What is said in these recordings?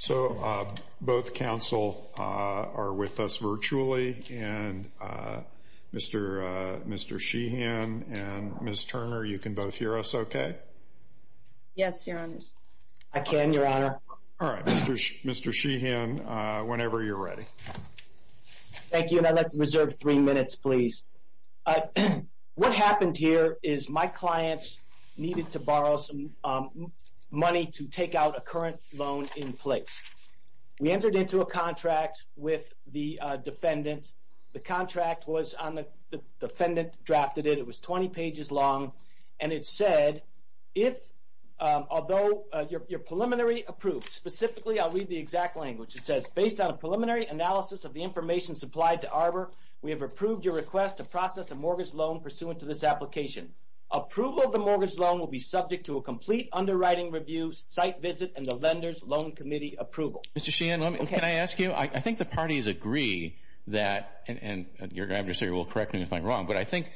So, both counsel are with us virtually, and Mr. Sheehan and Ms. Turner, you can both hear us okay? Yes, Your Honor. I can, Your Honor. All right, Mr. Sheehan, whenever you're ready. Thank you, and I'd like to reserve three minutes, please. What happened here is my clients needed to borrow some money to take out a current loan in place. We entered into a contract with the defendant. The contract was on the defendant drafted it. It was 20 pages long, and it said, although you're preliminary approved, specifically, I'll read the exact language. It says, based on a preliminary analysis of the information supplied to Arbor, we have approved your request to process a mortgage loan pursuant to this application. Approval of the mortgage loan will be subject to a complete underwriting review, site visit, and the lender's loan committee approval. Mr. Sheehan, can I ask you, I think the parties agree that, and your adversary will correct me if I'm wrong, but I think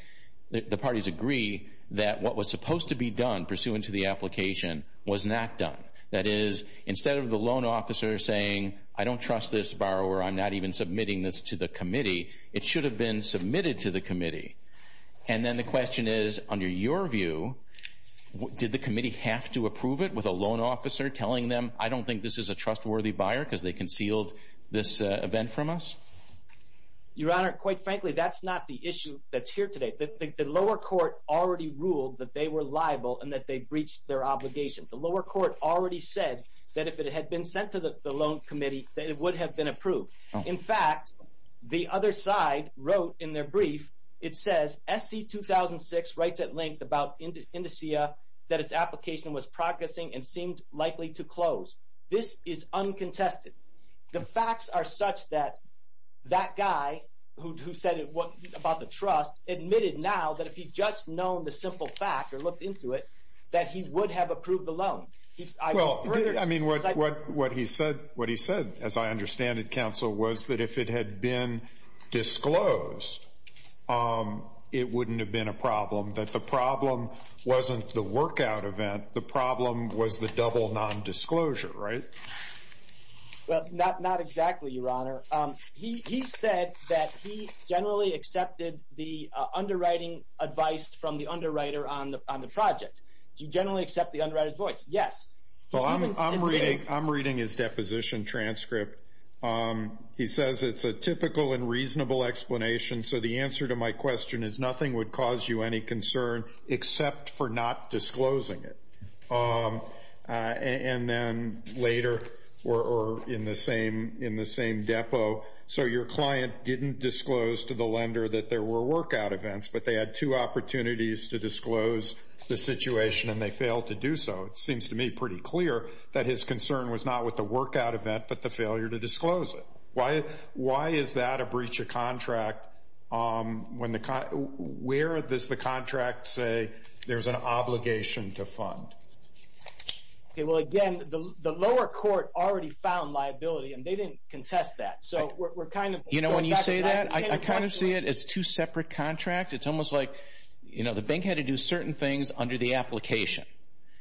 the parties agree that what was supposed to be done pursuant to the application was not done. That is, instead of the loan officer saying, I don't trust this borrower, I'm not even submitting this to the committee, it should have been submitted to the committee. And then the question is, under your view, did the committee have to approve it with a loan officer telling them, I don't think this is a trustworthy buyer because they concealed this event from us? Your Honor, quite frankly, that's not the issue that's here today. The lower court already ruled that they were liable and that they breached their obligation. The lower court already said that if it had been sent to the loan committee, that it would have been approved. In fact, the other side wrote in their brief, it says, SC-2006 writes at length about Indusia, that its application was progressing and seemed likely to close. This is uncontested. The facts are such that that guy who said about the trust admitted now that if he'd just known the simple fact or looked into it, that he would have approved the loan. I mean, what he said, as I understand it, counsel, was that if it had been disclosed, it wouldn't have been a problem. That the problem wasn't the workout event. The problem was the double non-disclosure, right? Well, not exactly, Your Honor. He said that he generally accepted the underwriting advice from the underwriter on the project. Do you generally accept the underwriter's voice? Yes. Well, I'm reading his deposition transcript. He says it's a typical and reasonable explanation. So the answer to my question is nothing would cause you any concern except for not disclosing it. And then later, or in the same depot, so your client didn't disclose to the lender that there were workout events, but they had two opportunities to disclose the situation and they failed to do so. It seems to me pretty clear that his concern was not with the workout event, but the failure to disclose it. Why is that a breach of contract? Where does the contract say there's an obligation to fund? Well, again, the lower court already found liability, and they didn't contest that. You know, when you say that, I kind of see it as two separate contracts. It's almost like the bank had to do certain things under the application,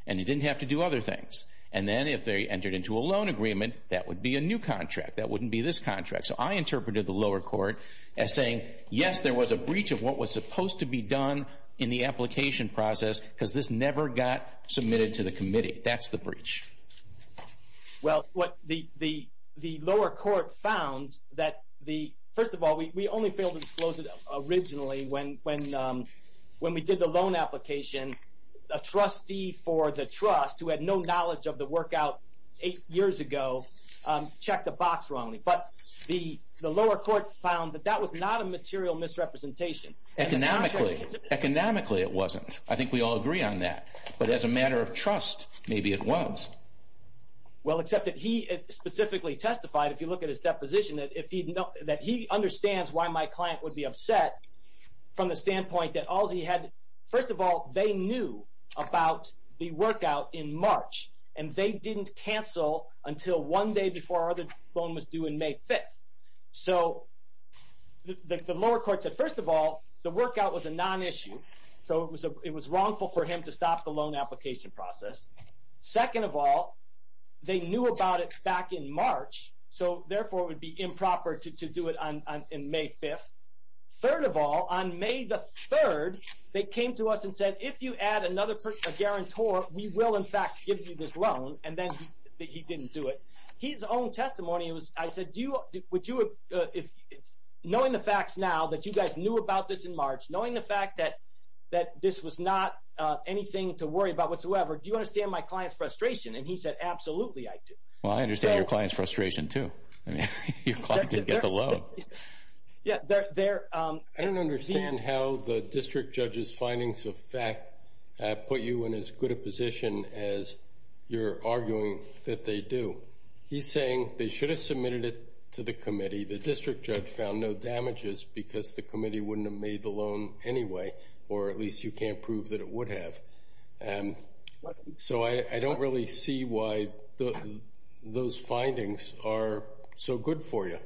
and it didn't have to do other things. And then if they entered into a loan agreement, that would be a new contract. That wouldn't be this contract. So I interpreted the lower court as saying, yes, there was a breach of what was supposed to be done in the application process because this never got submitted to the committee. That's the breach. Well, what the lower court found that the, first of all, we only failed to disclose it originally when we did the loan application. A trustee for the trust, who had no knowledge of the workout eight years ago, checked a box wrongly. But the lower court found that that was not a material misrepresentation. Economically, it wasn't. I think we all agree on that. But as a matter of trust, maybe it was. Well, except that he specifically testified, if you look at his deposition, that he understands why my client would be upset from the standpoint that all he had, first of all, they knew about the workout in March. And they didn't cancel until one day before our other loan was due in May 5th. So the lower court said, first of all, the workout was a non-issue. So it was wrongful for him to stop the loan application process. Second of all, they knew about it back in March. So therefore, it would be improper to do it on May 5th. Third of all, on May the 3rd, they came to us and said, if you add another person, a guarantor, we will, in fact, give you this loan. And then he didn't do it. His own testimony, I said, knowing the facts now that you guys knew about this in March, knowing the fact that this was not anything to worry about whatsoever, do you understand my client's frustration? And he said, absolutely, I do. Well, I understand your client's frustration, too. Your client didn't get the loan. Yeah. I don't understand how the district judge's findings of fact put you in as good a position as you're arguing that they do. He's saying they should have submitted it to the committee. The district judge found no damages because the committee wouldn't have made the loan anyway, or at least you can't prove that it would have. So I don't really see why those findings are so good for you.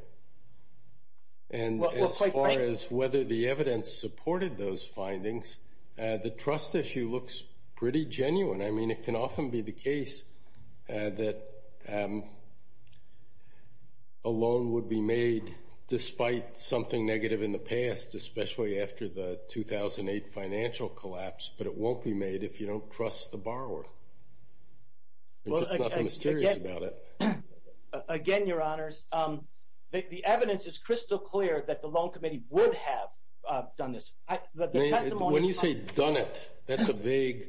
And as far as whether the evidence supported those findings, the trust issue looks pretty genuine. I mean, it can often be the case that a loan would be made despite something negative in the past, especially after the 2008 financial collapse, but it won't be made if you don't trust the borrower. There's just nothing mysterious about it. Again, Your Honors, the evidence is crystal clear that the loan committee would have done this. When you say done it, that's a vague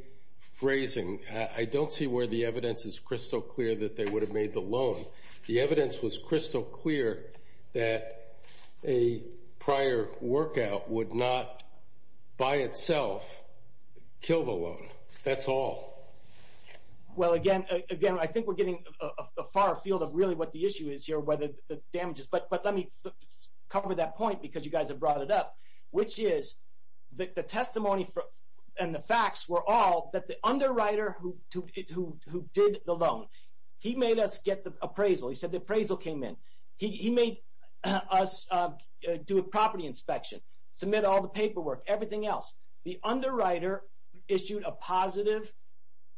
phrasing. I don't see where the evidence is crystal clear that they would have made the loan. The evidence was crystal clear that a prior workout would not by itself kill the loan. That's all. Well, again, I think we're getting a far field of really what the issue is here, whether the damages. But let me cover that point because you guys have brought it up, which is the testimony and the facts were all that the underwriter who did the loan, he made us get the appraisal. He said the appraisal came in. He made us do a property inspection, submit all the paperwork, everything else. The underwriter issued a positive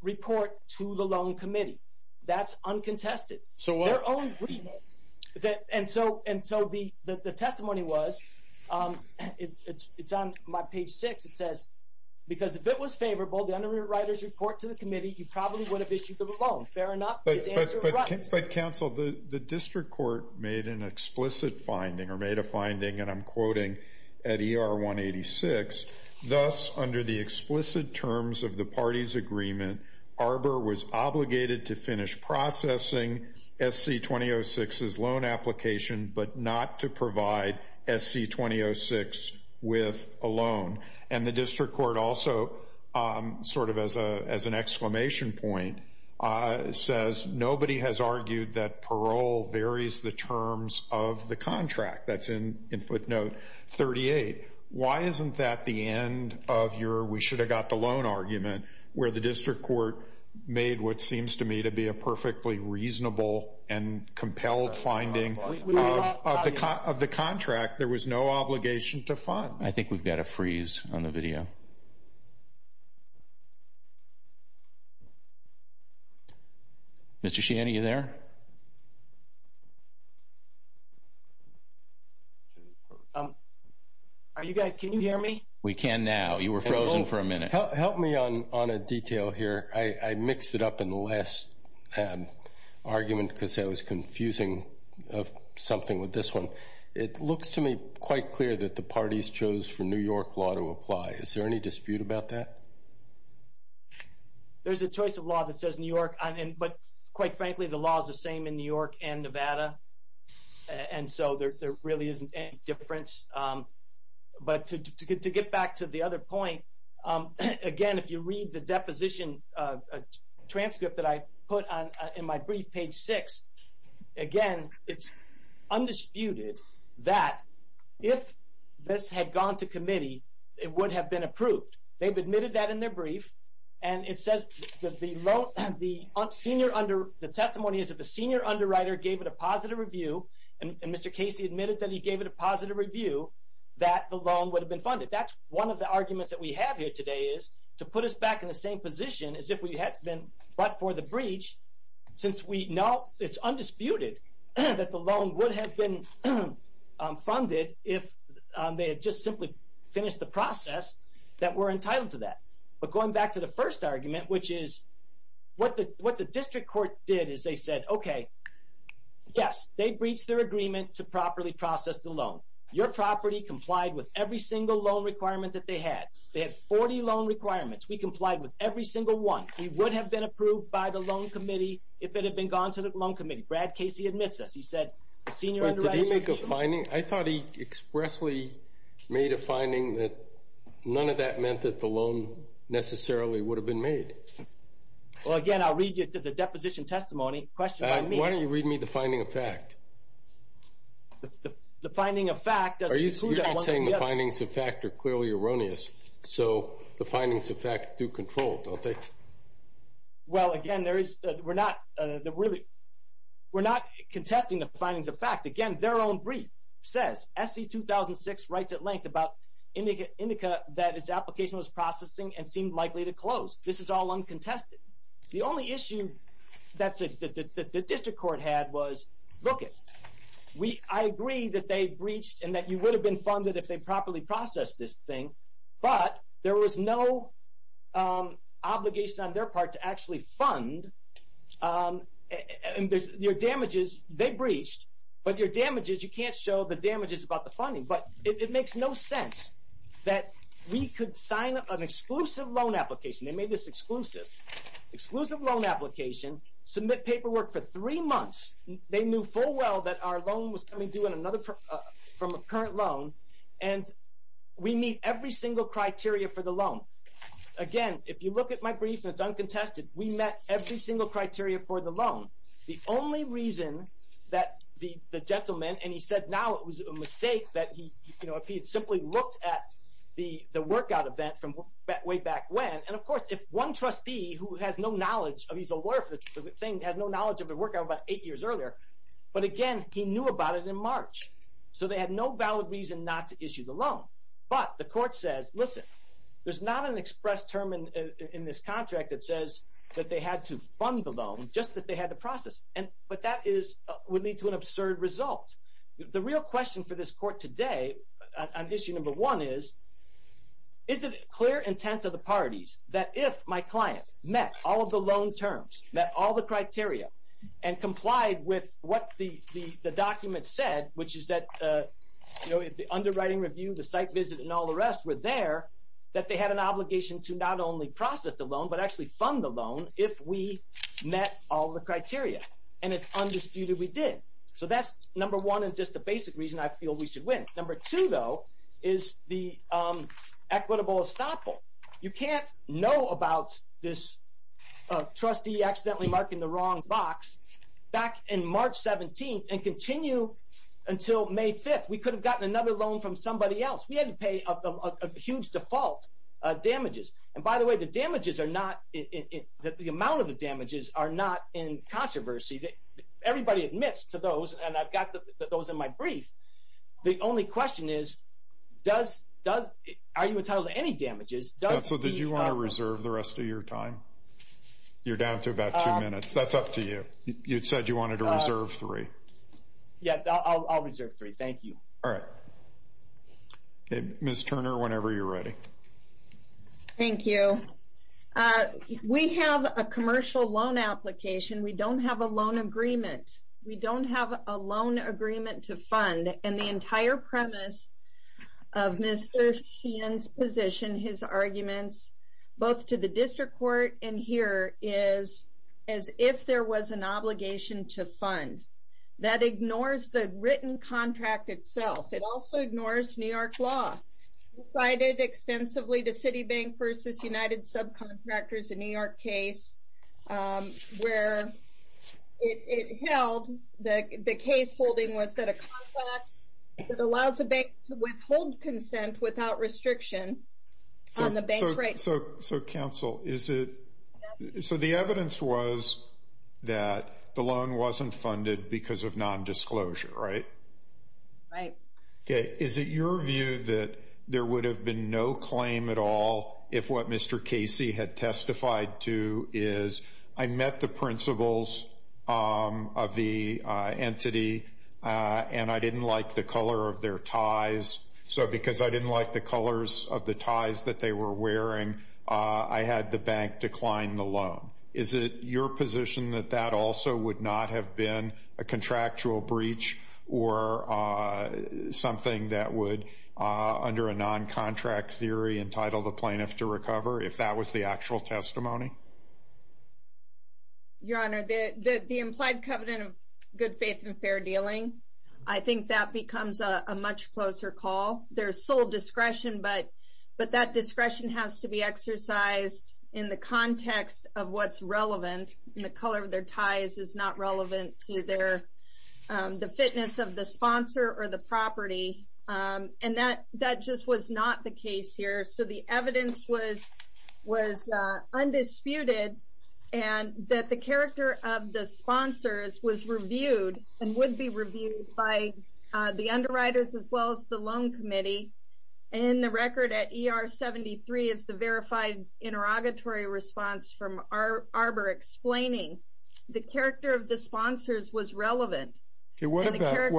report to the loan committee. That's uncontested. Their own agreement. And so the testimony was, it's on my page six. It says, because if it was favorable, the underwriter's report to the committee, you probably would have issued the loan. Fair enough? But, counsel, the district court made an explicit finding or made a finding, and I'm quoting at ER 186, thus under the explicit terms of the party's agreement, Arbor was obligated to finish processing SC-2006's loan application, and the district court also, sort of as an exclamation point, says nobody has argued that parole varies the terms of the contract. That's in footnote 38. Why isn't that the end of your we should have got the loan argument, where the district court made what seems to me to be a perfectly reasonable and compelled finding of the contract. There was no obligation to fund. I think we've got a freeze on the video. Mr. Sheehan, are you there? Are you guys, can you hear me? We can now. You were frozen for a minute. Help me on a detail here. I mixed it up in the last argument because I was confusing something with this one. It looks to me quite clear that the parties chose for New York law to apply. Is there any dispute about that? There's a choice of law that says New York, but quite frankly the law is the same in New York and Nevada, and so there really isn't any difference. But to get back to the other point, again, if you read the deposition transcript that I put in my brief, page 6, again, it's undisputed that if this had gone to committee, it would have been approved. They've admitted that in their brief, and it says the testimony is that the senior underwriter gave it a positive review, and Mr. Casey admitted that he gave it a positive review, that the loan would have been funded. That's one of the arguments that we have here today is to put us back in the same position as if we had been but for the breach since we know it's undisputed that the loan would have been funded if they had just simply finished the process that we're entitled to that. But going back to the first argument, which is what the district court did is they said, okay, yes, they breached their agreement to properly process the loan. Your property complied with every single loan requirement that they had. They had 40 loan requirements. We complied with every single one. We would have been approved by the loan committee if it had been gone to the loan committee. Brad Casey admits this. He said the senior underwriter gave it a positive review. Did he make a finding? I thought he expressly made a finding that none of that meant that the loan necessarily would have been made. Well, again, I'll read you the deposition testimony. Why don't you read me the finding of fact? The finding of fact doesn't include that one thing. You're not saying the findings of fact are clearly erroneous, so the findings of fact do control, don't they? Well, again, we're not contesting the findings of fact. Again, their own brief says SC-2006 writes at length about Indica that its application was processing and seemed likely to close. This is all uncontested. The only issue that the district court had was, look, I agree that they breached and that you would have been funded if they properly processed this thing, but there was no obligation on their part to actually fund. Your damages, they breached, but your damages, you can't show the damages about the funding. But it makes no sense that we could sign an exclusive loan application. They made this exclusive. Exclusive loan application, submit paperwork for three months. They knew full well that our loan was coming due from a current loan, and we meet every single criteria for the loan. Again, if you look at my brief, it's uncontested. We met every single criteria for the loan. The only reason that the gentleman, and he said now it was a mistake, that if he had simply looked at the workout event from way back when, and, of course, if one trustee who has no knowledge, he's a lawyer for the thing, has no knowledge of the workout about eight years earlier, but, again, he knew about it in March. So they had no valid reason not to issue the loan. But the court says, listen, there's not an express term in this contract that says that they had to fund the loan, just that they had to process it. But that would lead to an absurd result. The real question for this court today on issue number one is, is it clear intent of the parties that if my client met all of the loan terms, met all the criteria and complied with what the document said, which is that the underwriting review, the site visit, and all the rest were there, that they had an obligation to not only process the loan, but actually fund the loan if we met all the criteria. And it's undisputed we did. So that's number one and just the basic reason I feel we should win. Number two, though, is the equitable estoppel. You can't know about this trustee accidentally marking the wrong box back in March 17th and continue until May 5th. We could have gotten another loan from somebody else. We had to pay a huge default damages. And by the way, the damages are not – the amount of the damages are not in controversy. Everybody admits to those, and I've got those in my brief. The only question is, are you entitled to any damages? So did you want to reserve the rest of your time? You're down to about two minutes. That's up to you. You said you wanted to reserve three. Yes, I'll reserve three. Thank you. All right. Ms. Turner, whenever you're ready. Thank you. We have a commercial loan application. We don't have a loan agreement. We don't have a loan agreement to fund. And the entire premise of Mr. Sheehan's position, his arguments, both to the district court and here, is as if there was an obligation to fund. That ignores the written contract itself. It also ignores New York law. I did extensively the Citibank versus United subcontractors in New York case, where it held that the case holding was that a contract that allows a bank to withhold consent without restriction on the bank's rights. So, counsel, is it so the evidence was that the loan wasn't funded because of nondisclosure, right? Right. Okay. Is it your view that there would have been no claim at all if what Mr. Casey had testified to is, I met the principles of the entity, and I didn't like the color of their ties. So because I didn't like the colors of the ties that they were wearing, I had the bank decline the loan. Is it your position that that also would not have been a contractual breach or something that would, under a noncontract theory, entitle the plaintiff to recover, if that was the actual testimony? Your Honor, the implied covenant of good faith and fair dealing, I think that becomes a much closer call. There's sole discretion, but that discretion has to be exercised in the context of what's relevant. And the color of their ties is not relevant to the fitness of the sponsor or the property. And that just was not the case here. So the evidence was undisputed and that the character of the sponsors was reviewed and would be reviewed by the underwriters as well as the loan committee. And the record at ER 73 is the verified interrogatory response from Arbor explaining the character of the sponsors was relevant. What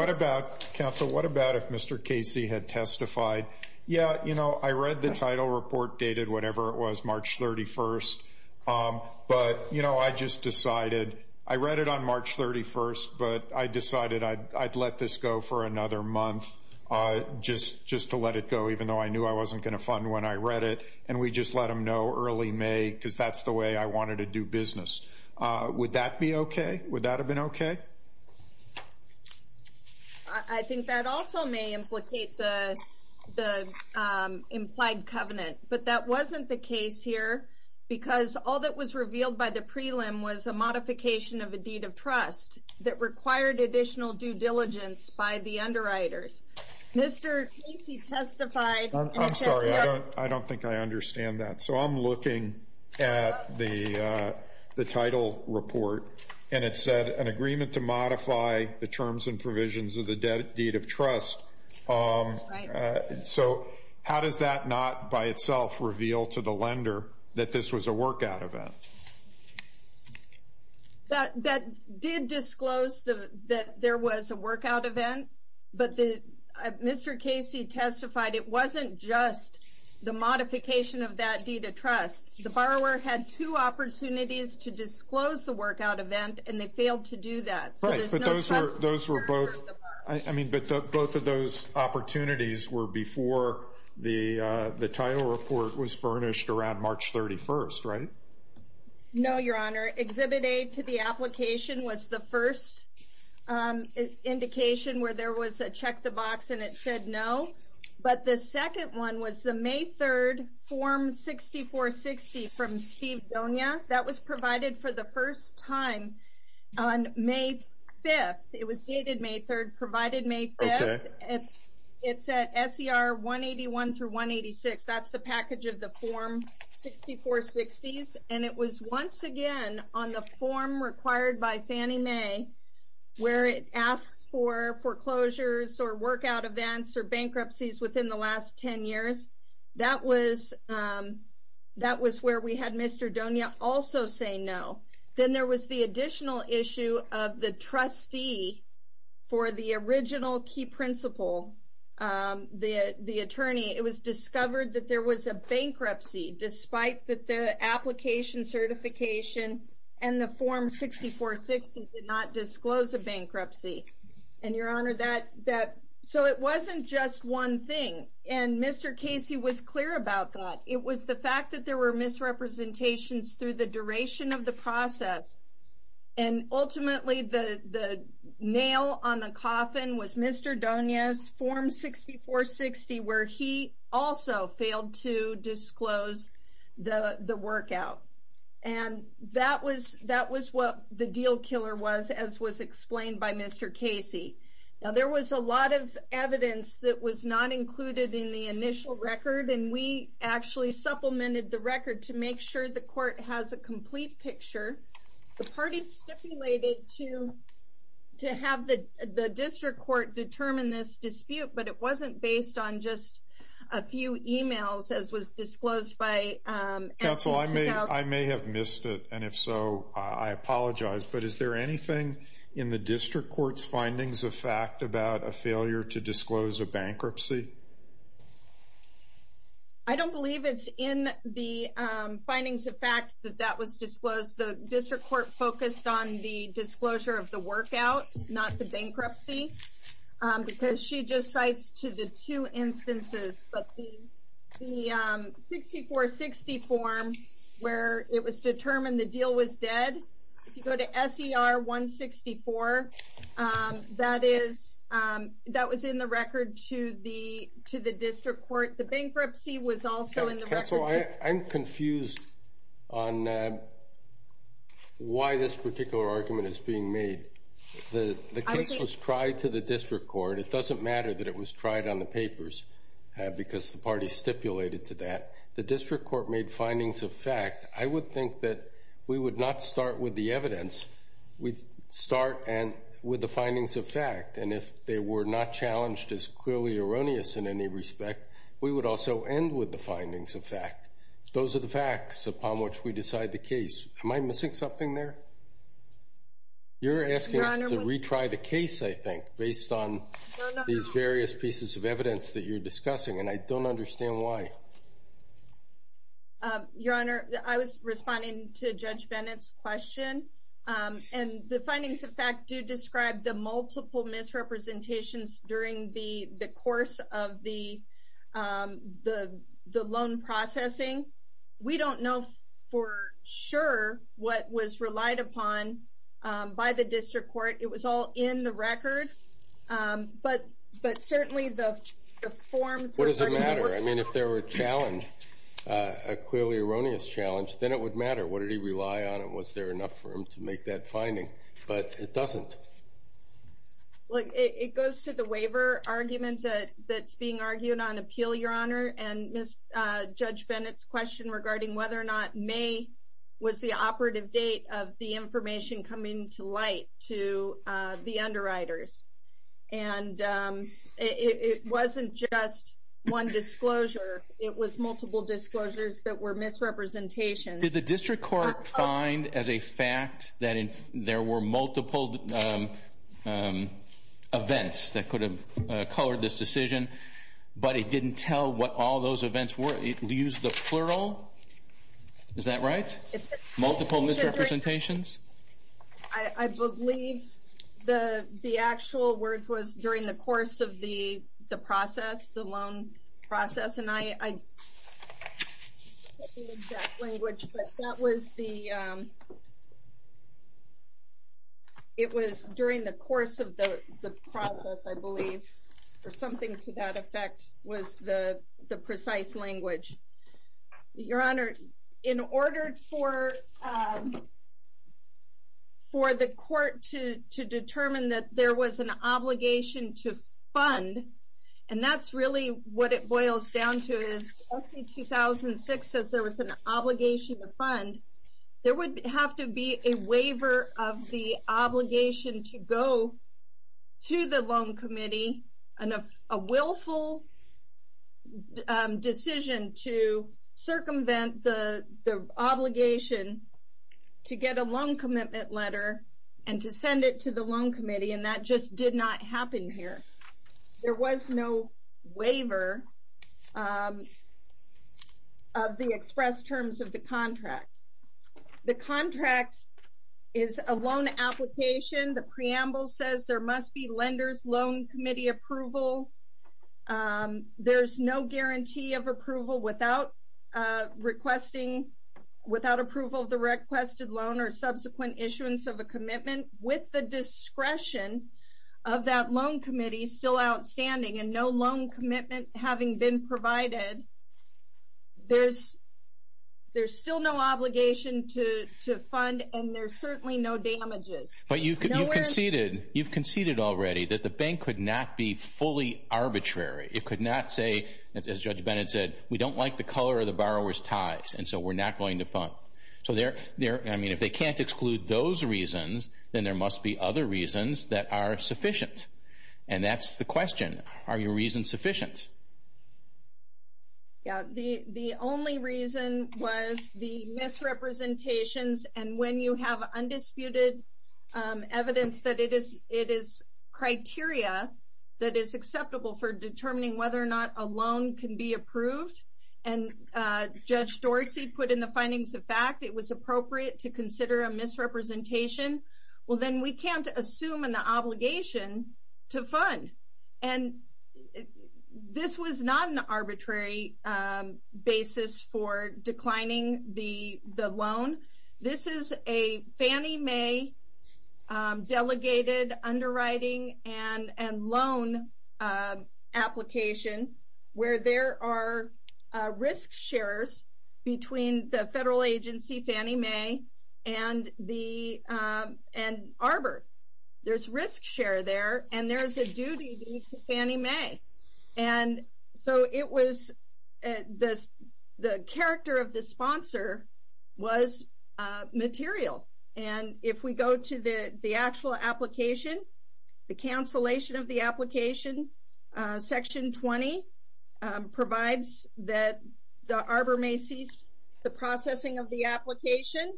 about, counsel, what about if Mr. Casey had testified? Yeah, you know, I read the title report dated whatever it was, March 31st. But, you know, I just decided, I read it on March 31st, but I decided I'd let this go for another month just to let it go, even though I knew I wasn't going to fund when I read it. And we just let them know early May because that's the way I wanted to do business. Would that be okay? Would that have been okay? I think that also may implicate the implied covenant. But that wasn't the case here because all that was revealed by the prelim was a modification of a deed of trust that required additional due diligence by the underwriters. Mr. Casey testified. I'm sorry. I don't think I understand that. So I'm looking at the title report, and it said an agreement to modify the terms and provisions of the deed of trust. So how does that not by itself reveal to the lender that this was a workout event? That did disclose that there was a workout event, but Mr. Casey testified, it wasn't just the modification of that deed of trust. The borrower had two opportunities to disclose the workout event, and they failed to do that. Right, but those were both. I mean, but both of those opportunities were before the title report was furnished around March 31st, right? No, Your Honor. Exhibit A to the application was the first indication where there was a check the box and it said no. But the second one was the May 3rd Form 6460 from Steve Donia. That was provided for the first time on May 5th. It was dated May 3rd, provided May 5th. It's at SER 181 through 186. That's the package of the Form 6460s, and it was once again on the form required by Fannie Mae, where it asks for foreclosures or workout events or bankruptcies within the last 10 years. That was where we had Mr. Donia also say no. Then there was the additional issue of the trustee for the original key principal, the attorney. It was discovered that there was a bankruptcy, despite that the application certification and the Form 6460 did not disclose a bankruptcy. And, Your Honor, so it wasn't just one thing, and Mr. Casey was clear about that. It was the fact that there were misrepresentations through the duration of the process, and ultimately the nail on the coffin was Mr. Donia's Form 6460, where he also failed to disclose the workout. And that was what the deal killer was, as was explained by Mr. Casey. Now, there was a lot of evidence that was not included in the initial record, and we actually supplemented the record to make sure the court has a complete picture. The party stipulated to have the district court determine this dispute, but it wasn't based on just a few e-mails, as was disclosed by... Counsel, I may have missed it, and if so, I apologize. But is there anything in the district court's findings of fact about a failure to disclose a bankruptcy? I don't believe it's in the findings of fact that that was disclosed. The district court focused on the disclosure of the workout, not the bankruptcy, because she just cites to the two instances. But the 6460 form, where it was determined the deal was dead, if you go to SER 164, that was in the record to the district court. The bankruptcy was also in the record. Counsel, I'm confused on why this particular argument is being made. The case was tried to the district court. It doesn't matter that it was tried on the papers, because the party stipulated to that. The district court made findings of fact. I would think that we would not start with the evidence. We'd start with the findings of fact, and if they were not challenged as clearly erroneous in any respect, we would also end with the findings of fact. Those are the facts upon which we decide the case. Am I missing something there? You're asking us to retry the case, I think, based on these various pieces of evidence that you're discussing, and I don't understand why. Your Honor, I was responding to Judge Bennett's question, and the findings of fact do describe the multiple misrepresentations during the course of the loan processing. We don't know for sure what was relied upon by the district court. It was all in the record. But certainly, the form permitted work. If there were a challenge, a clearly erroneous challenge, then it would matter. What did he rely on, and was there enough for him to make that finding? But it doesn't. It goes to the waiver argument that's being argued on appeal, Your Honor, and Judge Bennett's question regarding whether or not May was the operative date of the information coming to light to the underwriters. And it wasn't just one disclosure. It was multiple disclosures that were misrepresentations. Did the district court find as a fact that there were multiple events that could have colored this decision, but it didn't tell what all those events were? It used the plural? Is that right? Multiple misrepresentations? I believe the actual word was during the course of the process, the loan process. And I don't have the exact language, but that was the – it was during the course of the process, I believe. Or something to that effect was the precise language. Your Honor, in order for the court to determine that there was an obligation to fund, and that's really what it boils down to is, let's say 2006 says there was an obligation to fund. There would have to be a waiver of the obligation to go to the loan committee, and a willful decision to circumvent the obligation to get a loan commitment letter and to send it to the loan committee, and that just did not happen here. There was no waiver of the express terms of the contract. The contract is a loan application. The preamble says there must be lender's loan committee approval. There's no guarantee of approval without requesting – without approval of the requested loan or subsequent issuance of a commitment with the discretion of that loan committee still outstanding, and no loan commitment having been provided. There's still no obligation to fund, and there's certainly no damages. But you've conceded already that the bank could not be fully arbitrary. It could not say, as Judge Bennett said, we don't like the color of the borrower's ties, and so we're not going to fund. So, I mean, if they can't exclude those reasons, then there must be other reasons that are sufficient, and that's the question. Are your reasons sufficient? Yeah. The only reason was the misrepresentations, and when you have undisputed evidence that it is criteria that is acceptable for determining whether or not a loan can be approved, and Judge Dorsey put in the findings of fact it was appropriate to consider a misrepresentation, well, then we can't assume an obligation to fund. And this was not an arbitrary basis for declining the loan. This is a Fannie Mae delegated underwriting and loan application where there are risk shares between the federal agency Fannie Mae and Arbor. There's risk share there, and there's a duty to Fannie Mae. And so it was the character of the sponsor was material. And if we go to the actual application, the cancellation of the application, Section 20 provides that the Arbor may cease the processing of the application.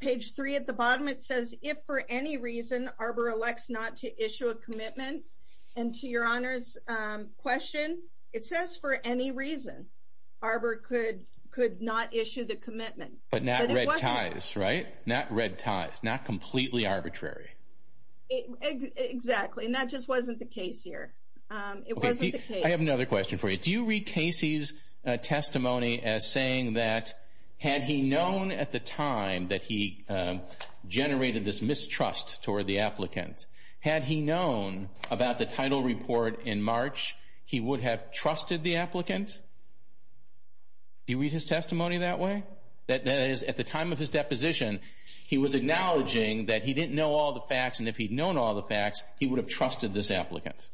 Page 3 at the bottom, it says, if for any reason Arbor elects not to issue a commitment, and to your Honor's question, it says for any reason Arbor could not issue the commitment. But not red ties, right? Not red ties, not completely arbitrary. Exactly, and that just wasn't the case here. I have another question for you. Do you read Casey's testimony as saying that had he known at the time that he generated this mistrust toward the applicant, had he known about the title report in March, he would have trusted the applicant? Do you read his testimony that way? That is, at the time of his deposition, he was acknowledging that he didn't know all the facts, and if he'd known all the facts, he would have trusted this applicant.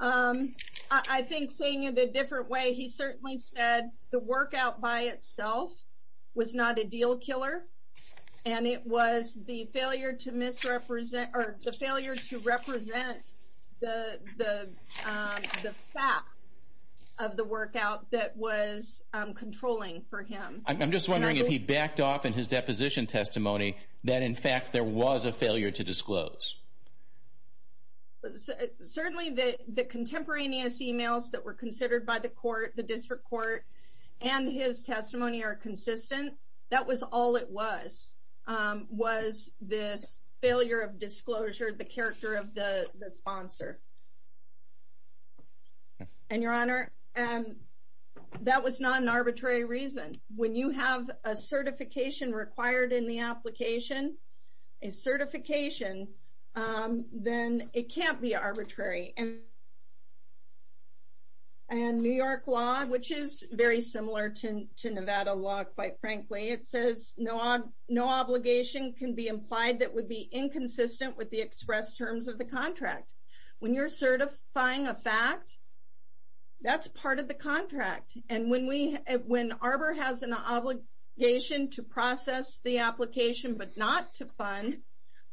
I think seeing it a different way, he certainly said the workout by itself was not a deal killer, and it was the failure to represent the fact of the workout that was controlling for him. I'm just wondering if he backed off in his deposition testimony that in fact there was a failure to disclose. Certainly the contemporaneous emails that were considered by the court, the district court, and his testimony are consistent. That was all it was, was this failure of disclosure, the character of the sponsor. And, Your Honor, that was not an arbitrary reason. When you have a certification required in the application, a certification, then it can't be arbitrary. And New York law, which is very similar to Nevada law, quite frankly, it says no obligation can be implied that would be inconsistent with the express terms of the contract. When you're certifying a fact, that's part of the contract. And when Arbor has an obligation to process the application, but not to fund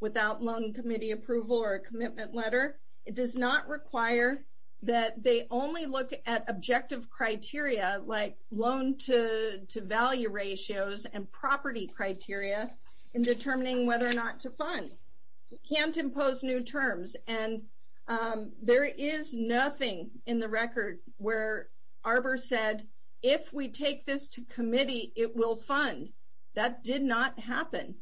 without loan committee approval or a commitment letter, it does not require that they only look at objective criteria like loan to value ratios and property criteria in determining whether or not to fund. You can't impose new terms. And there is nothing in the record where Arbor said, if we take this to committee, it will fund. That did not happen.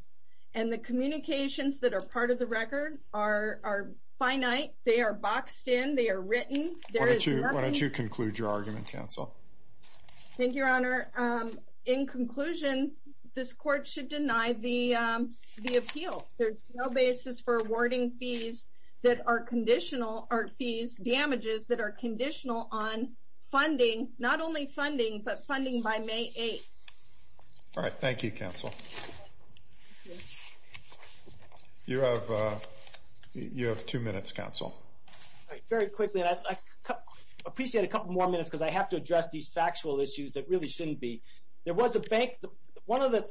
And the communications that are part of the record are finite. They are boxed in. They are written. Why don't you conclude your argument, counsel? Thank you, Your Honor. In conclusion, this court should deny the appeal. There's no basis for awarding fees that are conditional, or fees damages that are conditional on funding, not only funding, but funding by May 8th. All right, thank you, counsel. You have two minutes, counsel. Very quickly, and I appreciate a couple more minutes because I have to address these factual issues that really shouldn't be. There was a bank, one of the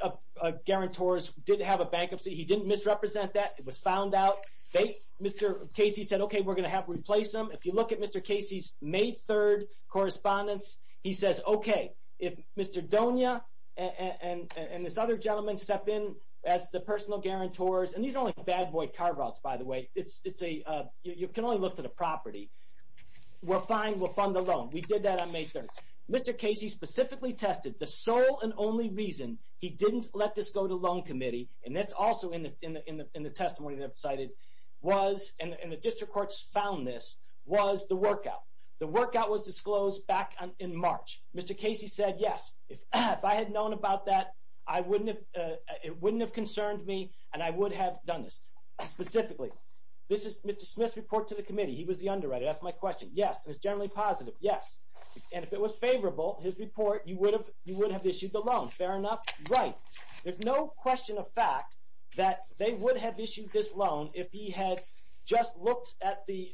guarantors did have a bankruptcy. He didn't misrepresent that. It was found out. Mr. Casey said, okay, we're going to have to replace him. If you look at Mr. Casey's May 3rd correspondence, he says, okay, if Mr. Donia and this other gentleman step in as the personal guarantors, and these are only bad boy carve outs, by the way. You can only look for the property. We're fine. We'll fund the loan. We did that on May 3rd. Mr. Casey specifically tested the sole and only reason he didn't let this go to loan committee, and that's also in the testimony that I've cited, was, and the district courts found this, was the workout. The workout was disclosed back in March. Mr. Casey said, yes, if I had known about that, it wouldn't have concerned me, and I would have done this. Specifically, this is Mr. Smith's report to the committee. He was the underwriter. That's my question. Yes. It was generally positive. Yes. And if it was favorable, his report, you would have issued the loan. Fair enough. Right. There's no question of fact that they would have issued this loan if he had just looked at the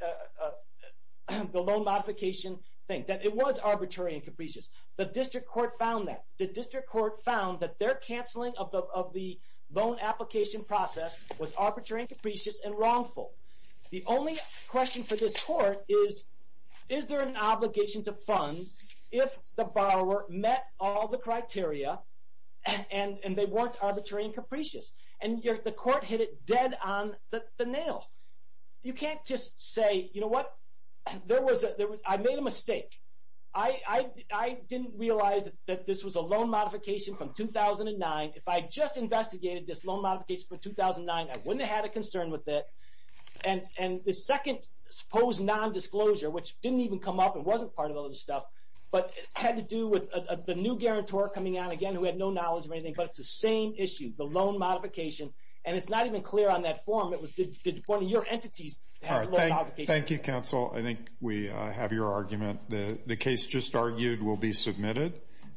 loan modification thing, that it was arbitrary and capricious. The district court found that. The district court found that their canceling of the loan application process was arbitrary and capricious and wrongful. The only question for this court is, is there an obligation to fund if the borrower met all the criteria and they weren't arbitrary and capricious? And the court hit it dead on the nail. You can't just say, you know what? I made a mistake. I didn't realize that this was a loan modification from 2009. If I had just investigated this loan modification from 2009, I wouldn't have had a concern with it. And the second supposed nondisclosure, which didn't even come up and wasn't part of all this stuff, but had to do with the new guarantor coming on again who had no knowledge of anything, but it's the same issue, the loan modification. And it's not even clear on that form. Did one of your entities have the loan modification? Thank you, counsel. I think we have your argument. The case just argued will be submitted.